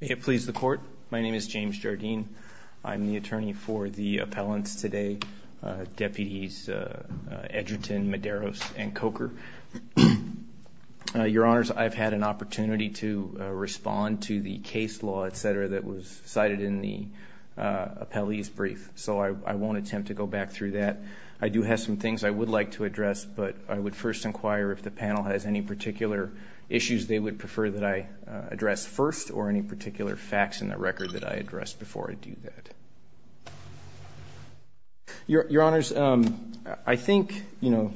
May it please the court, my name is James Jardine, I'm the attorney for the appellants today, deputies Edgerton, Medeiros, and Coker. Your honors, I've had an opportunity to respond to the case law, etc., that was cited in the appellee's brief, so I won't attempt to go back through that. I do have some things I would like to address, but I would first inquire if the panel has any particular issues they would prefer that I address first, or any particular facts in the record that I address before I do that. Your honors, I think, you know,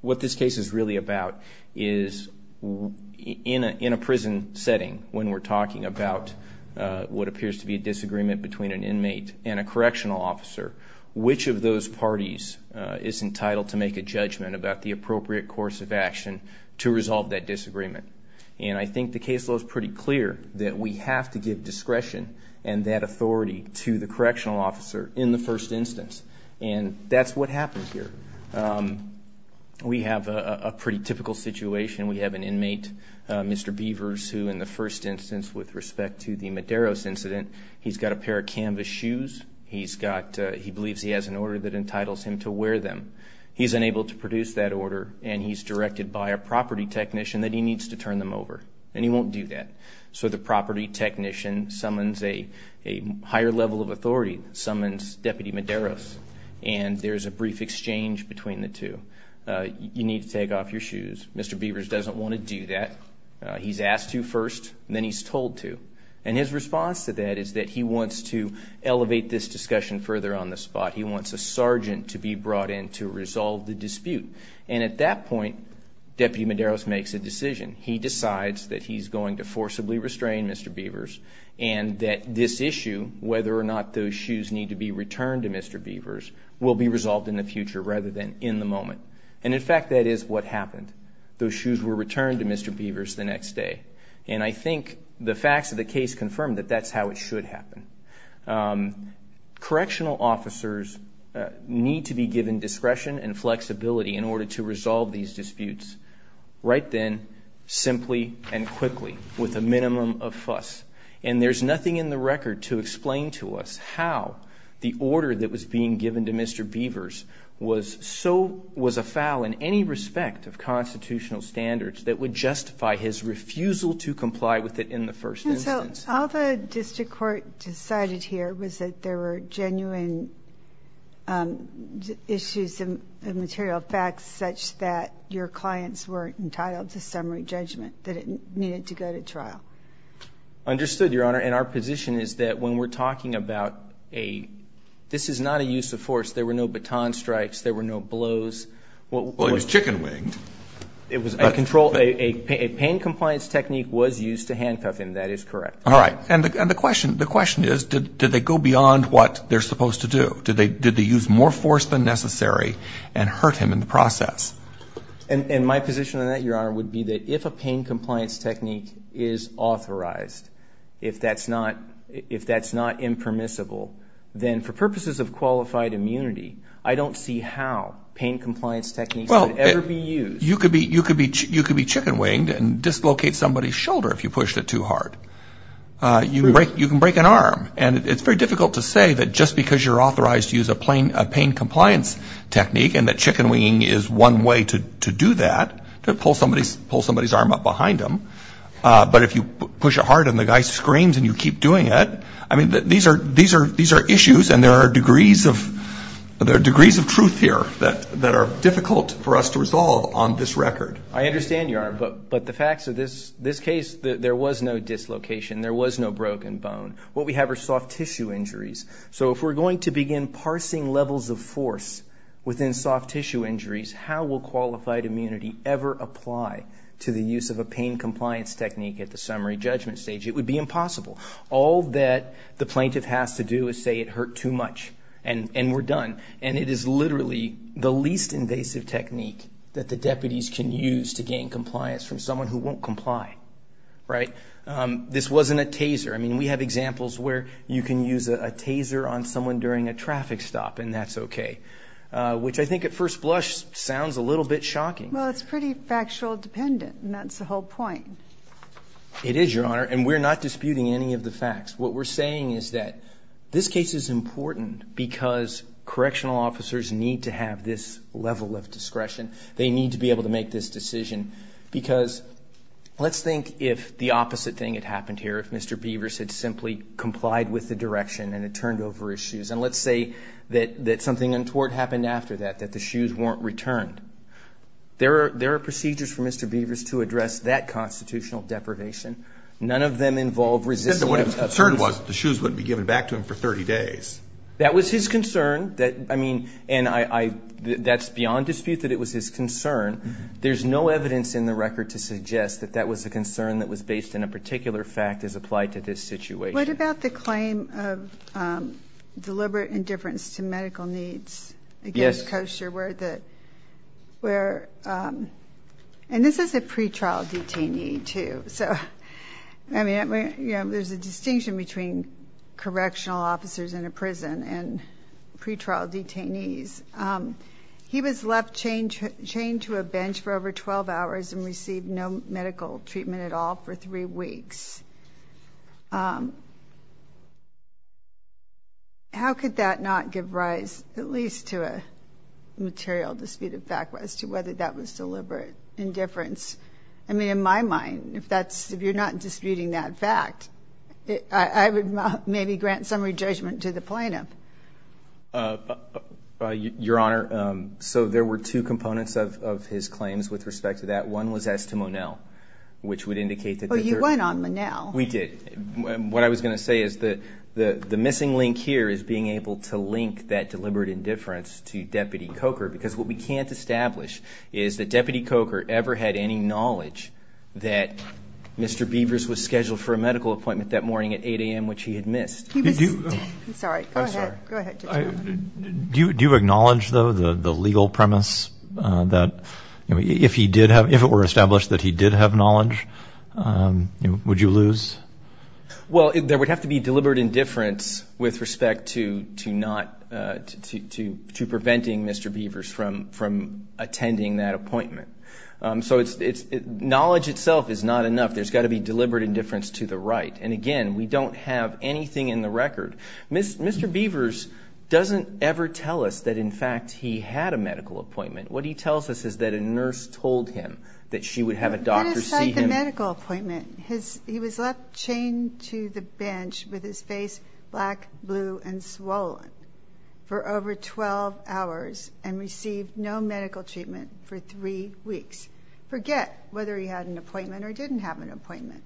what this case is really about is, in a prison setting, when we're talking about what appears to be a disagreement between an inmate and a correctional officer, which of those parties is entitled to make a judgment about the disagreement? And I think the case law is pretty clear that we have to give discretion and that authority to the correctional officer in the first instance, and that's what happened here. We have a pretty typical situation, we have an inmate, Mr. Beavers, who in the first instance with respect to the Medeiros incident, he's got a pair of canvas shoes, he's got, he believes he has an order that entitles him to wear them. He's unable to produce that order and he's directed by a property technician that he needs to turn them over, and he won't do that. So the property technician summons a higher level of authority, summons Deputy Medeiros, and there's a brief exchange between the two. You need to take off your shoes. Mr. Beavers doesn't want to do that. He's asked to first, then he's told to, and his response to that is that he wants to elevate this discussion further on the spot. He wants a sergeant to be brought in to resolve the dispute, and at that point Deputy Medeiros makes a decision. He decides that he's going to forcibly restrain Mr. Beavers and that this issue, whether or not those shoes need to be returned to Mr. Beavers, will be resolved in the future rather than in the moment, and in fact that is what happened. Those shoes were returned to Mr. Beavers the next day, and I think the facts of the case confirm that that's how it should happen. Correctional officers need to be given discretion and flexibility in order to resolve these disputes right then, simply, and quickly with a minimum of fuss, and there's nothing in the record to explain to us how the order that was being given to Mr. Beavers was so, was a foul in any respect of constitutional standards that would justify his refusal to comply with it in the first instance. All the district court decided here was that there were genuine issues and material facts such that your clients weren't entitled to summary judgment, that it needed to go to trial. Understood, Your Honor, and our position is that when we're talking about a, this is not a use of force, there were no baton strikes, there were no blows. Well, it was chicken winged. It was a control, a pain compliance technique was used to handcuff him, that is correct. All right, and the question, the question is, did they go beyond what they're supposed to do? Did they, did they use more force than necessary and hurt him in the process? And my position on that, Your Honor, would be that if a pain compliance technique is authorized, if that's not, if that's not impermissible, then for purposes of qualified immunity, I don't see how pain compliance techniques could ever be used. You could be, you could be, you could be chicken winged and dislocate somebody's shoulder if you pushed it too hard. You can break, you can break an arm, and it's very difficult to say that just because you're authorized to use a plain, a pain compliance technique and that chicken winging is one way to, to do that, to pull somebody's, pull somebody's arm up behind him, but if you push it hard and the guy screams and you keep doing it, I mean, these are, these are, these are issues and there are degrees of, there are degrees of truth here that, that are difficult for us to resolve on this record. I understand, Your Honor, but, but the facts of this, this case, there was no dislocation, there was no broken bone. What we have are soft tissue injuries, so if we're going to begin parsing levels of force within soft tissue injuries, how will qualified immunity ever apply to the use of a pain compliance technique at the summary judgment stage? It would be impossible. All that the plaintiff has to do is say it hurt too much and, and we're done, and it is literally the least invasive technique that the deputies can use to gain compliance from someone who won't comply, right? This wasn't a taser. I mean, we have examples where you can use a taser on someone during a traffic stop and that's okay, which I think at first blush sounds a little bit shocking. Well, it's pretty factual dependent and that's the whole point. It is, Your Honor, and we're not disputing any of the facts. What we're saying is that this case is important because correctional officers need to have this level of discretion. They need to be able to make this decision because let's think if the opposite thing had happened here, if Mr. Beavers had simply complied with the direction and it turned over his shoes. And let's say that, that something untoward happened after that, that the shoes weren't returned. There are, there are procedures for Mr. Beavers to address that constitutional deprivation. None of them involve resisting. What his concern was, the shoes wouldn't be given back to him for 30 days. That was his concern that, I mean, and I, I, that's beyond dispute that it was his concern, there's no evidence in the record to suggest that that was a concern that was based in a particular fact as applied to this situation. What about the claim of deliberate indifference to medical needs against Koester where the, where, and this is a pretrial detainee too. So, I mean, you know, there's a distinction between correctional officers in a prison and pretrial detainees. He was left chained to a bench for over 12 hours and received no medical treatment at all for three weeks. How could that not give rise at least to a material disputed fact as to whether that was deliberate indifference? I mean, in my mind, if that's, if you're not disputing that fact, I would maybe grant summary judgment to the plaintiff. Your Honor, so there were two components of, of his claims with respect to that. One was as to Monell, which would indicate that. Oh, you went on Monell. We did. What I was going to say is that the, the missing link here is being able to link that deliberate indifference to Deputy Koester because what we can't establish is that Deputy Koester ever had any knowledge that Mr. Beavers was scheduled for a medical appointment that morning at 8 AM, which he had missed. He was, I'm sorry, go ahead. Do you, do you acknowledge though, the legal premise that, you know, if he did have, if it were established that he did have knowledge, you know, would you lose? Well, there would have to be deliberate indifference with respect to, to not, to, to, to preventing Mr. Beavers from, from attending that appointment. So it's, it's, knowledge itself is not enough. There's got to be deliberate indifference to the right. And again, we don't have anything in the record. Mr. Beavers doesn't ever tell us that in fact, he had a medical appointment. What he tells us is that a nurse told him that she would have a doctor see him. Let us cite the medical appointment. His, he was left chained to the bench with his face black, blue, and swollen for over 12 hours and received no medical treatment for three weeks. Forget whether he had an appointment or didn't have an appointment.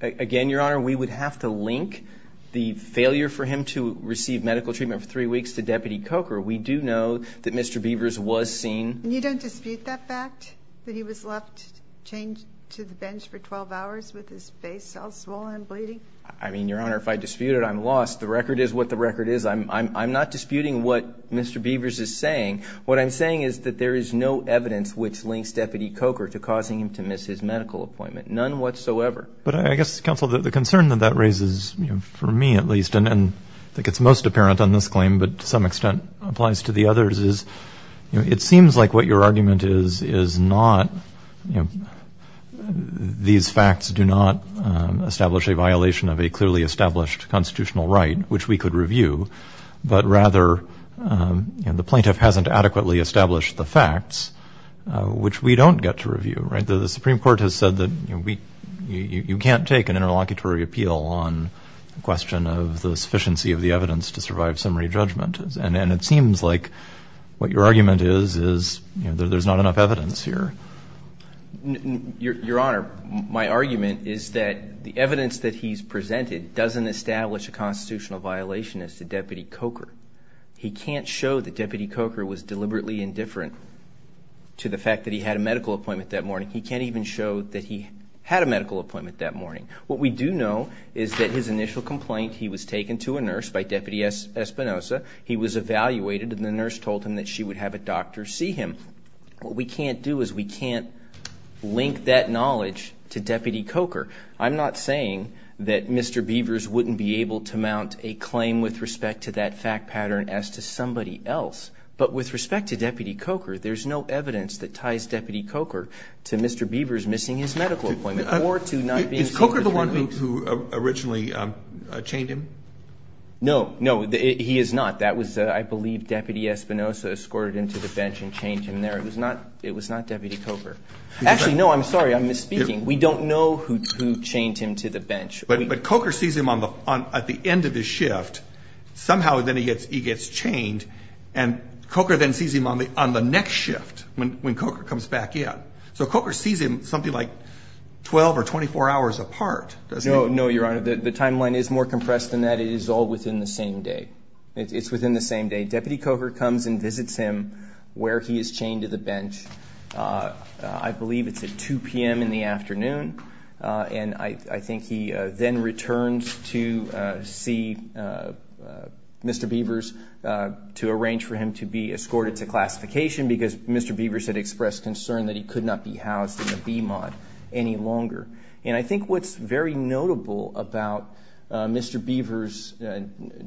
Again, Your Honor, we would have to link the failure for him to receive medical treatment for three weeks to Deputy Coker. We do know that Mr. Beavers was seen. And you don't dispute that fact that he was left chained to the bench for 12 hours with his face all swollen and bleeding? I mean, Your Honor, if I dispute it, I'm lost. The record is what the record is. I'm, I'm, I'm not disputing what Mr. Beavers is saying. What I'm saying is that there is no evidence which links Deputy Coker to causing him to miss his medical appointment. None whatsoever. But I guess, counsel, the concern that that raises, you know, for me at least, and I think it's most apparent on this claim, but to some extent applies to the others, is, you know, it seems like what your argument is, is not, you know, these facts do not establish a violation of a clearly established constitutional right, which we could review, but rather, you know, the plaintiff hasn't adequately established the facts, which we don't get to review, right? The Supreme Court has said that, you know, we, you, you can't take an interlocutory appeal on the question of the sufficiency of the evidence to survive summary judgment, and, and it seems like what your argument is, is, you know, there's not enough evidence here. Your, Your Honor, my argument is that the evidence that he's presented doesn't establish a constitutional violation as to Deputy Coker. He can't show that Deputy Coker was deliberately indifferent to the fact that he had a medical appointment that morning. He can't even show that he had a medical appointment that morning. What we do know is that his initial complaint, he was taken to a nurse by Deputy Espinosa. He was evaluated and the nurse told him that she would have a doctor see him. What we can't do is we can't link that knowledge to Deputy Coker. I'm not saying that Mr. Beavers wouldn't be able to mount a claim with respect to that fact pattern as to somebody else, but with respect to Deputy Coker, there's no evidence that ties Deputy Coker to Mr. Beavers missing his medical appointment or to not being seen for three weeks. Is Coker the one who, who originally chained him? No, no, he is not. That was, I believe, Deputy Espinosa escorted him to the bench and chained him there. It was not, it was not Deputy Coker. Actually, no, I'm sorry. I'm misspeaking. We don't know who, who chained him to the bench. But, but Coker sees him on the, on, at the end of his shift, somehow then he gets, he gets chained and Coker then sees him on the, on the next shift when, when Coker comes back in. So Coker sees him something like 12 or 24 hours apart. No, no. Your Honor, the timeline is more compressed than that. It is all within the same day. It's within the same day. Deputy Coker comes and visits him where he is chained to the bench. I believe it's at 2 PM in the afternoon. And I think he then returns to see Mr. Beavers to arrange for him to be escorted to classification because Mr. Beavers had expressed concern that he could not be housed in the BMOD any longer. And I think what's very notable about Mr. Beavers'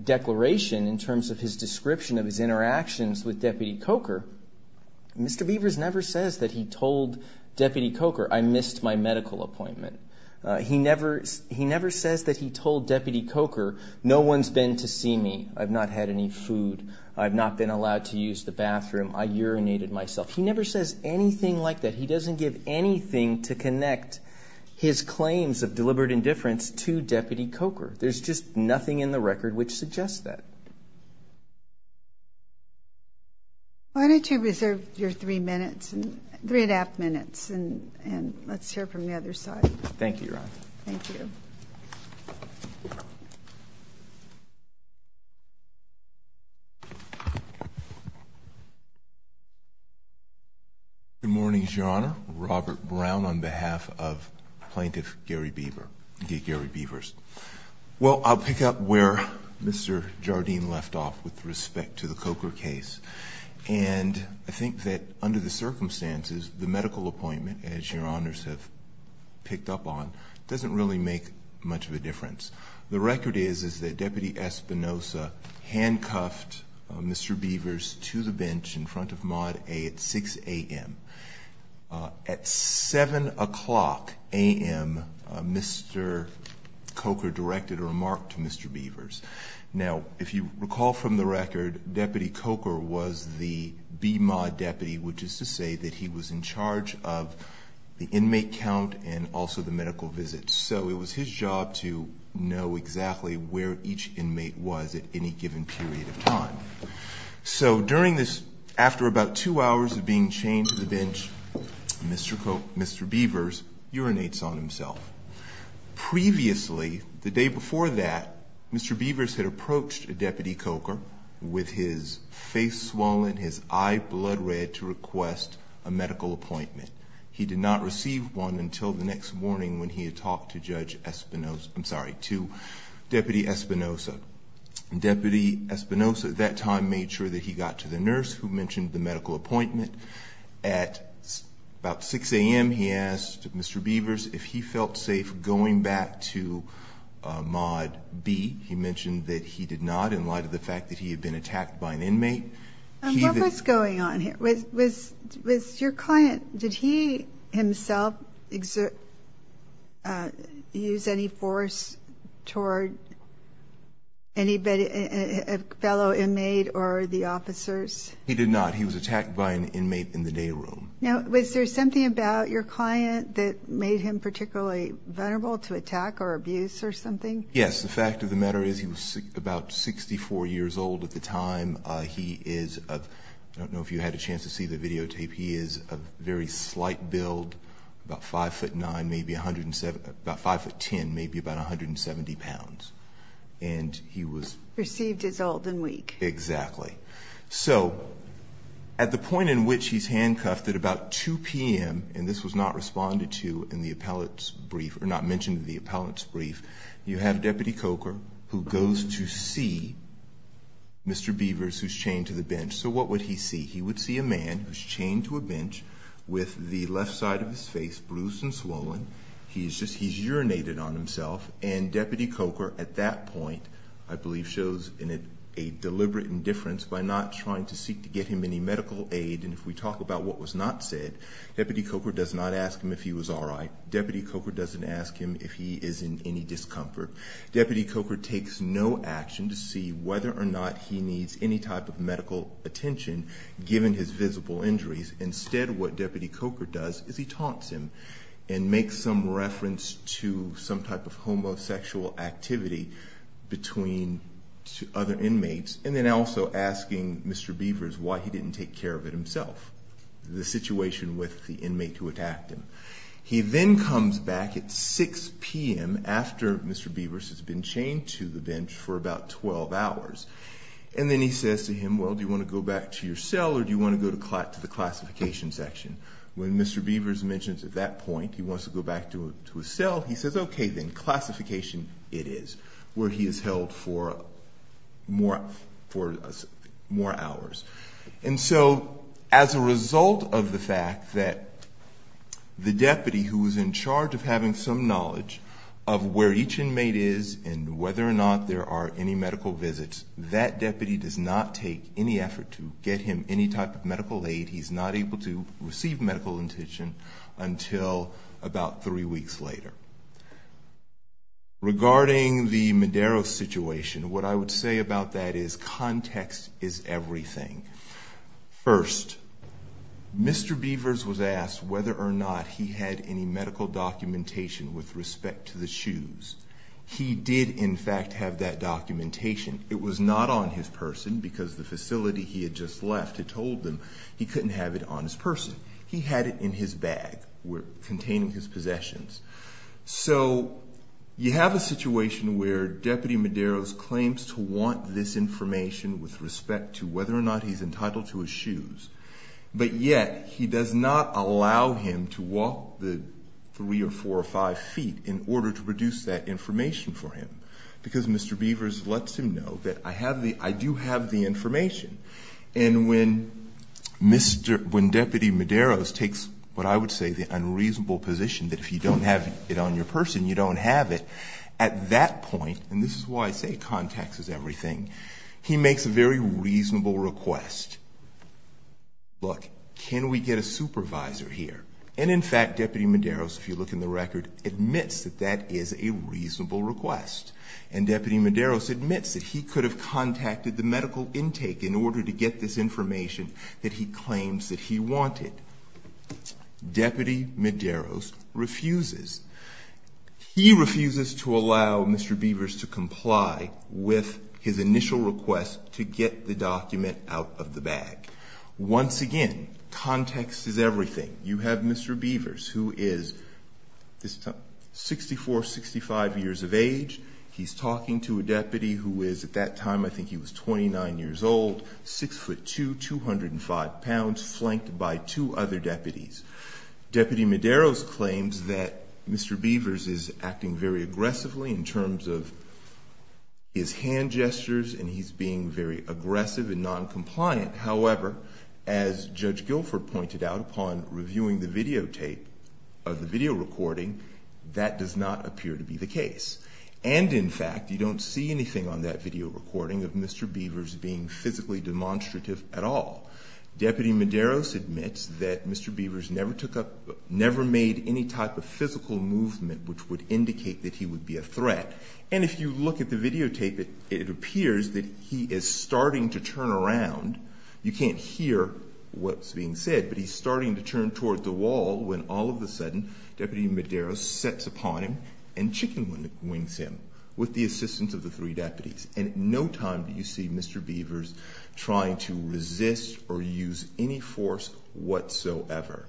declaration in terms of his description of his interactions with Deputy Coker, Mr. Beavers never says that he told Deputy Coker, I missed my medical appointment. He never, he never says that he told Deputy Coker, no one's been to see me. I've not had any food. I've not been allowed to use the bathroom. I urinated myself. He never says anything like that. He doesn't give anything to connect his claims of deliberate indifference to Deputy Coker. There's just nothing in the record which suggests that. Why don't you reserve your three minutes, three and a half minutes, and let's hear from the other side. Thank you, Your Honor. Thank you. Good morning, Your Honor. Robert Brown on behalf of Plaintiff Gary Beaver, Gary Beavers. Well, I'll pick up where Mr. Jardine left off with respect to the Coker case. And I think that under the circumstances, the medical appointment, as Your Honors have picked up on, doesn't really make much of a difference. The record is, is that Deputy Espinosa handcuffed Mr. Beavers to the bench in front of Mod A at 6 a.m. At 7 o'clock a.m., Mr. Coker directed a remark to Mr. Beavers. Now, if you recall from the record, Deputy Coker was the B-Mod deputy, which is to say that he was in charge of the inmate count and also the medical visit. So it was his job to know exactly where each inmate was at any given period of time. So during this, after about two hours of being chained to the bench, Mr. Coker, Mr. Beavers urinates on himself. Previously, the day before that, Mr. Beavers had approached a Deputy Coker with his face swollen, his eye blood red to request a medical appointment. He did not receive one until the next morning when he had talked to Judge Espinosa, I'm sorry, to Deputy Espinosa. Deputy Espinosa at that time made sure that he got to the nurse who mentioned the medical appointment. At about 6 a.m., he asked Mr. Beavers if he felt safe going back to Mod B. He mentioned that he did not, in light of the fact that he had been attacked by an inmate. What was going on here? Was your client, did he himself use any force toward a fellow inmate or the officers? He did not. He was attacked by an inmate in the day room. Now, was there something about your client that made him particularly vulnerable to attack or abuse or something? Yes. The fact of the matter is he was about 64 years old at the time. He is, I don't know if you had a chance to see the videotape, he is a very slight build, about 5'9", maybe about 5'10", maybe about 170 pounds. And he was- Received his old and weak. Exactly. So, at the point in which he's handcuffed at about 2 p.m., and this was not responded to in the appellate's brief, or not mentioned in the appellate's brief, you have Deputy Coker, who goes to see Mr. Beavers, who's chained to the bench. So what would he see? He would see a man who's chained to a bench with the left side of his face bruised and swollen. He's just, he's urinated on himself. And Deputy Coker, at that point, I believe shows a deliberate indifference by not trying to seek to get him any medical aid. And if we talk about what was not said, Deputy Coker does not ask him if he was all right. Deputy Coker doesn't ask him if he is in any discomfort. Deputy Coker takes no action to see whether or not he needs any type of medical attention, given his visible injuries. Instead, what Deputy Coker does is he taunts him and makes some reference to some type of homosexual activity between other inmates. And then also asking Mr. Beavers why he didn't take care of it himself, the situation with the inmate who attacked him. He then comes back at 6 PM after Mr. Beavers has been chained to the bench for about 12 hours. And then he says to him, well, do you want to go back to your cell or do you want to go to the classification section? When Mr. Beavers mentions at that point he wants to go back to his cell, he says, okay then, classification it is, where he is held for more hours. And so, as a result of the fact that the deputy who is in charge of having some knowledge of where each inmate is and whether or not there are any medical visits, that deputy does not take any effort to get him any type of medical aid. He's not able to receive medical attention until about three weeks later. Regarding the Madero situation, what I would say about that is context is everything. First, Mr. Beavers was asked whether or not he had any medical documentation with respect to the shoes. He did, in fact, have that documentation. It was not on his person because the facility he had just left had told him he couldn't have it on his person. He had it in his bag containing his possessions. So, you have a situation where Deputy Madero's claims to want this information with respect to whether or not he's entitled to his shoes. But yet, he does not allow him to walk the three or four or five feet in order to produce that information for him. Because Mr. Beavers lets him know that I do have the information. And when Deputy Madero takes what I would say the unreasonable position that if you don't have it on your person, you don't have it. At that point, and this is why I say context is everything, he makes a very reasonable request. Look, can we get a supervisor here? And in fact, Deputy Madero, if you look in the record, admits that that is a reasonable request. And Deputy Madero admits that he could have contacted the medical intake in order to get this information that he claims that he wanted. Deputy Madero refuses. He refuses to allow Mr. Beavers to comply with his initial request to get the document out of the bag. Once again, context is everything. You have Mr. Beavers, who is 64, 65 years of age. He's talking to a deputy who is, at that time, I think he was 29 years old, 6'2", 205 pounds, flanked by two other deputies. Deputy Madero's claims that Mr. Beavers is acting very aggressively in terms of his hand gestures, and he's being very aggressive and non-compliant. However, as Judge Guilford pointed out upon reviewing the videotape of the video recording, that does not appear to be the case. And in fact, you don't see anything on that video recording of Mr. Beavers being physically demonstrative at all. Deputy Madero admits that Mr. Beavers never made any type of physical movement which would indicate that he would be a threat. And if you look at the videotape, it appears that he is starting to turn around. You can't hear what's being said, but he's starting to turn toward the wall when all of a sudden, Deputy Madero sets upon him and chicken wings him with the assistance of the three deputies. And at no time do you see Mr. Beavers trying to resist or use any force whatsoever.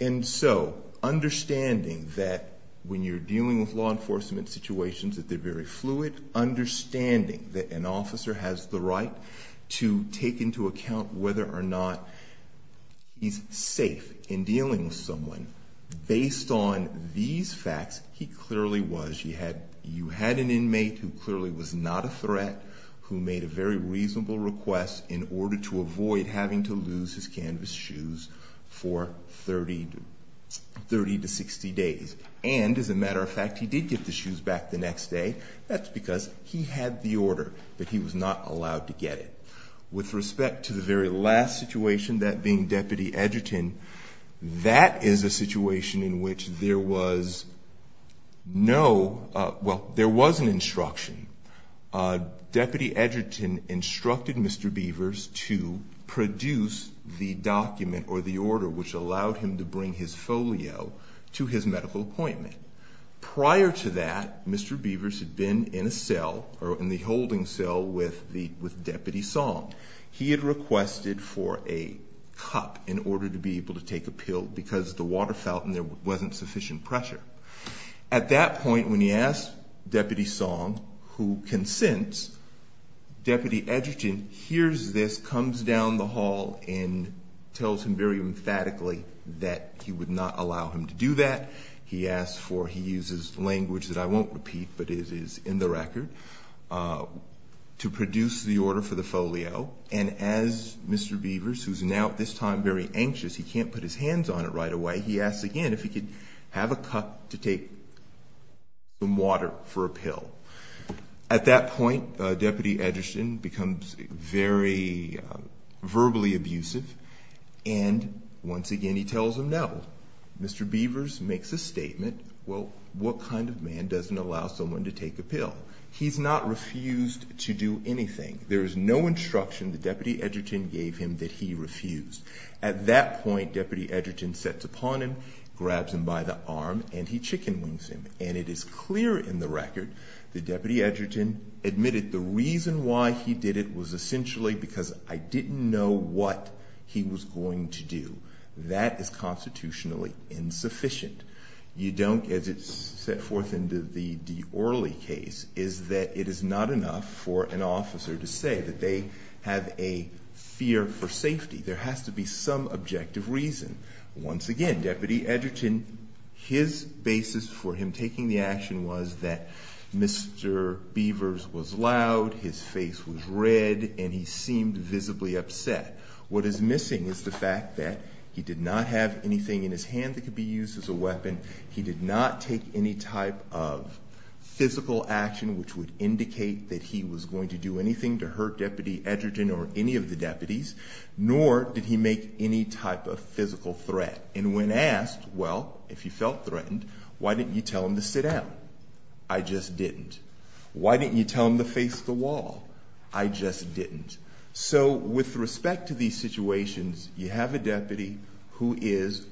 And so, understanding that when you're dealing with law enforcement situations that they're very fluid, understanding that an officer has the right to take into account whether or not he's safe in dealing with someone. Based on these facts, he clearly was. You had an inmate who clearly was not a threat, who made a very reasonable request in order to avoid having to lose his canvas shoes for 30 to 60 days. And as a matter of fact, he did get the shoes back the next day. That's because he had the order, but he was not allowed to get it. With respect to the very last situation, that being Deputy Edgerton, that is a situation in which there was no, well, there was an instruction. Deputy Edgerton instructed Mr. Beavers to produce the document or the order which allowed him to bring his folio to his medical appointment. Prior to that, Mr. Beavers had been in a cell, or in the holding cell with Deputy Song. He had requested for a cup in order to be able to take a pill because the water fountain there wasn't sufficient pressure. At that point, when he asked Deputy Song, who consents, Deputy Edgerton hears this, comes down the hall and tells him very emphatically that he would not allow him to do that. He asks for, he uses language that I won't repeat, but it is in the record, to produce the order for the folio, and as Mr. Beavers, who's now at this time very anxious, he can't put his hands on it right away, he asks again if he could have a cup to take some water for a pill. At that point, Deputy Edgerton becomes very verbally abusive, and once again he tells him no. Mr. Beavers makes a statement, well, what kind of man doesn't allow someone to take a pill? He's not refused to do anything. There is no instruction that Deputy Edgerton gave him that he refused. At that point, Deputy Edgerton sets upon him, grabs him by the arm, and he chicken wings him. And it is clear in the record that Deputy Edgerton admitted the reason why he did it was essentially because I didn't know what he was going to do. That is constitutionally insufficient. You don't, as it's set forth into the D'Orly case, is that it is not enough for an officer to say that they have a fear for safety. There has to be some objective reason. Once again, Deputy Edgerton, his basis for him taking the action was that Mr. Beavers was loud, his face was red, and he seemed visibly upset. What is missing is the fact that he did not have anything in his hand that could be used as a weapon. He did not take any type of physical action which would indicate that he was going to do anything to hurt Deputy Edgerton or any of the deputies, nor did he make any type of physical threat. And when asked, well, if you felt threatened, why didn't you tell him to sit down? I just didn't. Why didn't you tell him to face the wall? I just didn't. So with respect to these situations, you have a deputy who is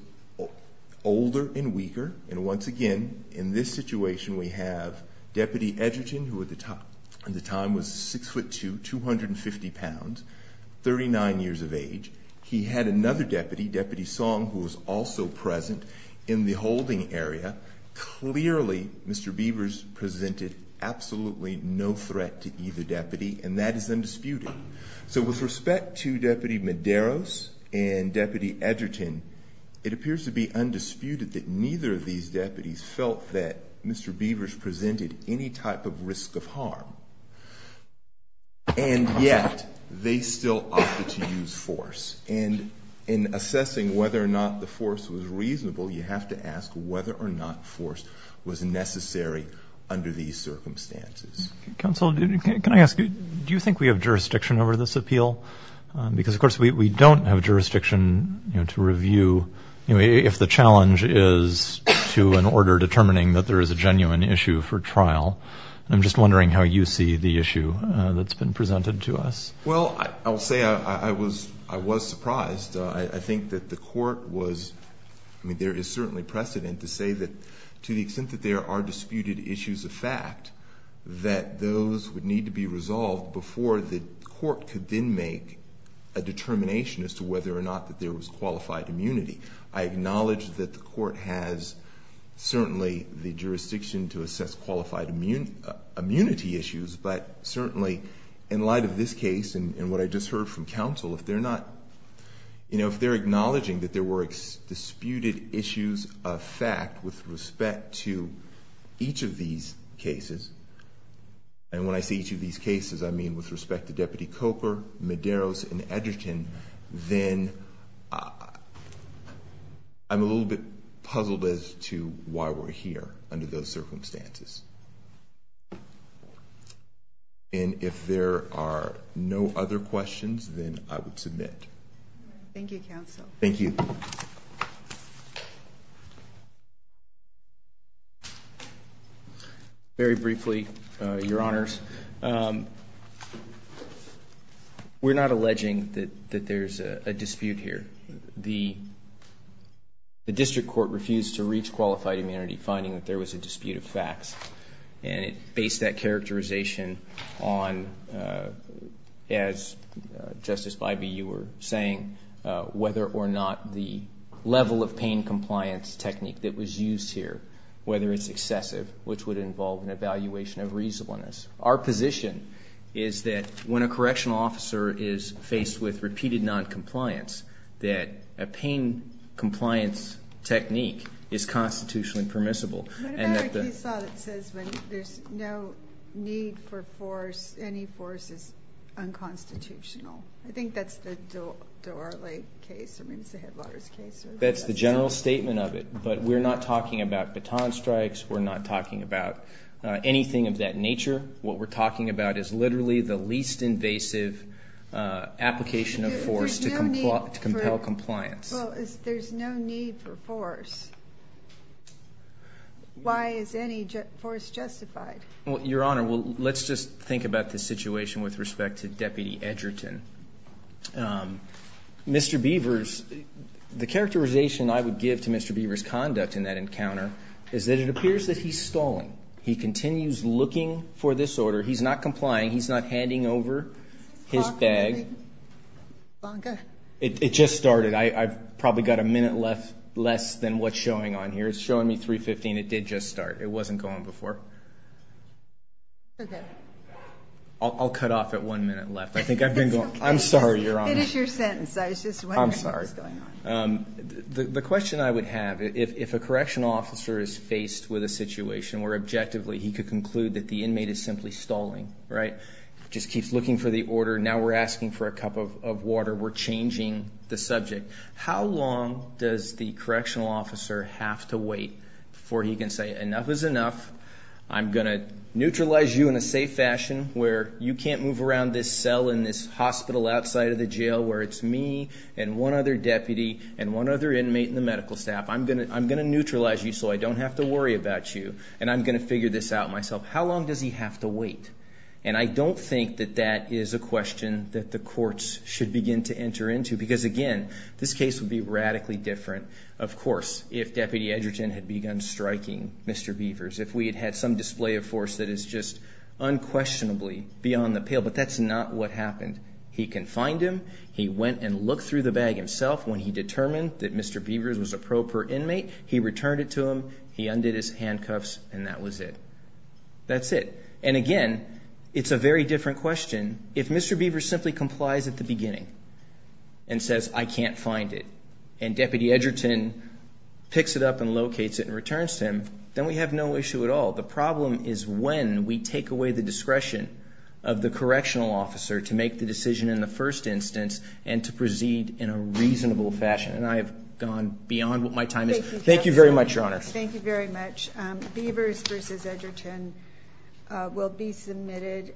older and weaker. And once again, in this situation, we have Deputy Edgerton, who at the time was 6'2", 250 pounds, 39 years of age. He had another deputy, Deputy Song, who was also present in the holding area. Clearly, Mr. Beavers presented absolutely no threat to either deputy, and that is undisputed. So with respect to Deputy Medeiros and Deputy Edgerton, it appears to be undisputed that neither of these deputies felt that Mr. Beavers presented any type of risk of harm. And yet, they still opted to use force. And in assessing whether or not the force was reasonable, you have to ask whether or not force was necessary under these circumstances. Counsel, can I ask you, do you think we have jurisdiction over this appeal? Because of course, we don't have jurisdiction to review if the challenge is to an order determining that there is a genuine issue for trial. I'm just wondering how you see the issue that's been presented to us. Well, I'll say I was surprised. I think that the court was, I mean, there is certainly precedent to say that to the extent that there are disputed issues of fact, that those would need to be resolved before the court could then make a determination as to whether or not that there was qualified immunity. I acknowledge that the court has certainly the jurisdiction to assess qualified immunity issues. But certainly, in light of this case and what I just heard from counsel, if they're acknowledging that there were disputed issues of fact with respect to each of these cases. And when I say each of these cases, I mean with respect to Deputy Coker, Medeiros, and Edgerton. Then I'm a little bit puzzled as to why we're here under those circumstances. And if there are no other questions, then I would submit. Thank you, counsel. Thank you. Very briefly, your honors. We're not alleging that there's a dispute here. The district court refused to reach qualified immunity finding that there was a dispute of facts. And it based that characterization on, as Justice Bybee, you were saying, whether or not the level of pain compliance technique that was used here. Whether it's excessive, which would involve an evaluation of reasonableness. Our position is that when a correctional officer is faced with repeated non-compliance, that a pain compliance technique is constitutionally permissible. What about our case law that says when there's no need for force, any force is unconstitutional? I think that's the Dorley case, or maybe it's the Headwaters case. That's the general statement of it. But we're not talking about baton strikes. We're not talking about anything of that nature. What we're talking about is literally the least invasive application of force to compel compliance. There's no need for force. Why is any force justified? Your honor, let's just think about the situation with respect to Deputy Edgerton. Mr. Beavers, the characterization I would give to Mr. Beavers' conduct in that encounter is that it appears that he's stalling. He continues looking for this order. He's not complying. He's not handing over his bag. It just started. I've probably got a minute left less than what's showing on here. It's showing me 315. It did just start. It wasn't going before. Okay. I'll cut off at one minute left. I think I've been going. I'm sorry, your honor. It is your sentence. I was just wondering what was going on. The question I would have, if a correctional officer is faced with a situation where objectively he could conclude that the inmate is simply stalling, right, just keeps looking for the order. Now we're asking for a cup of water. We're changing the subject. How long does the correctional officer have to wait before he can say enough is enough. I'm going to neutralize you in a safe fashion where you can't move around this cell in this hospital outside of the jail where it's me and one other deputy and one other inmate and the medical staff. I'm going to neutralize you so I don't have to worry about you. And I'm going to figure this out myself. How long does he have to wait? And I don't think that that is a question that the courts should begin to enter into. Because again, this case would be radically different, of course, if Deputy Edgerton had begun striking Mr. Beavers. If we had had some display of force that is just unquestionably beyond the pale. But that's not what happened. He confined him. He went and looked through the bag himself. When he determined that Mr. Beavers was a proper inmate, he returned it to him. He undid his handcuffs and that was it. That's it. And again, it's a very different question. If Mr. Beavers simply complies at the beginning and says, I can't find it, and Deputy Edgerton picks it up and locates it and returns to him, then we have no issue at all. The problem is when we take away the discretion of the correctional officer to make the decision in the first instance and to proceed in a reasonable fashion, and I have gone beyond what my time is. Thank you very much, Your Honor. Yes, thank you very much. Beavers versus Edgerton will be submitted.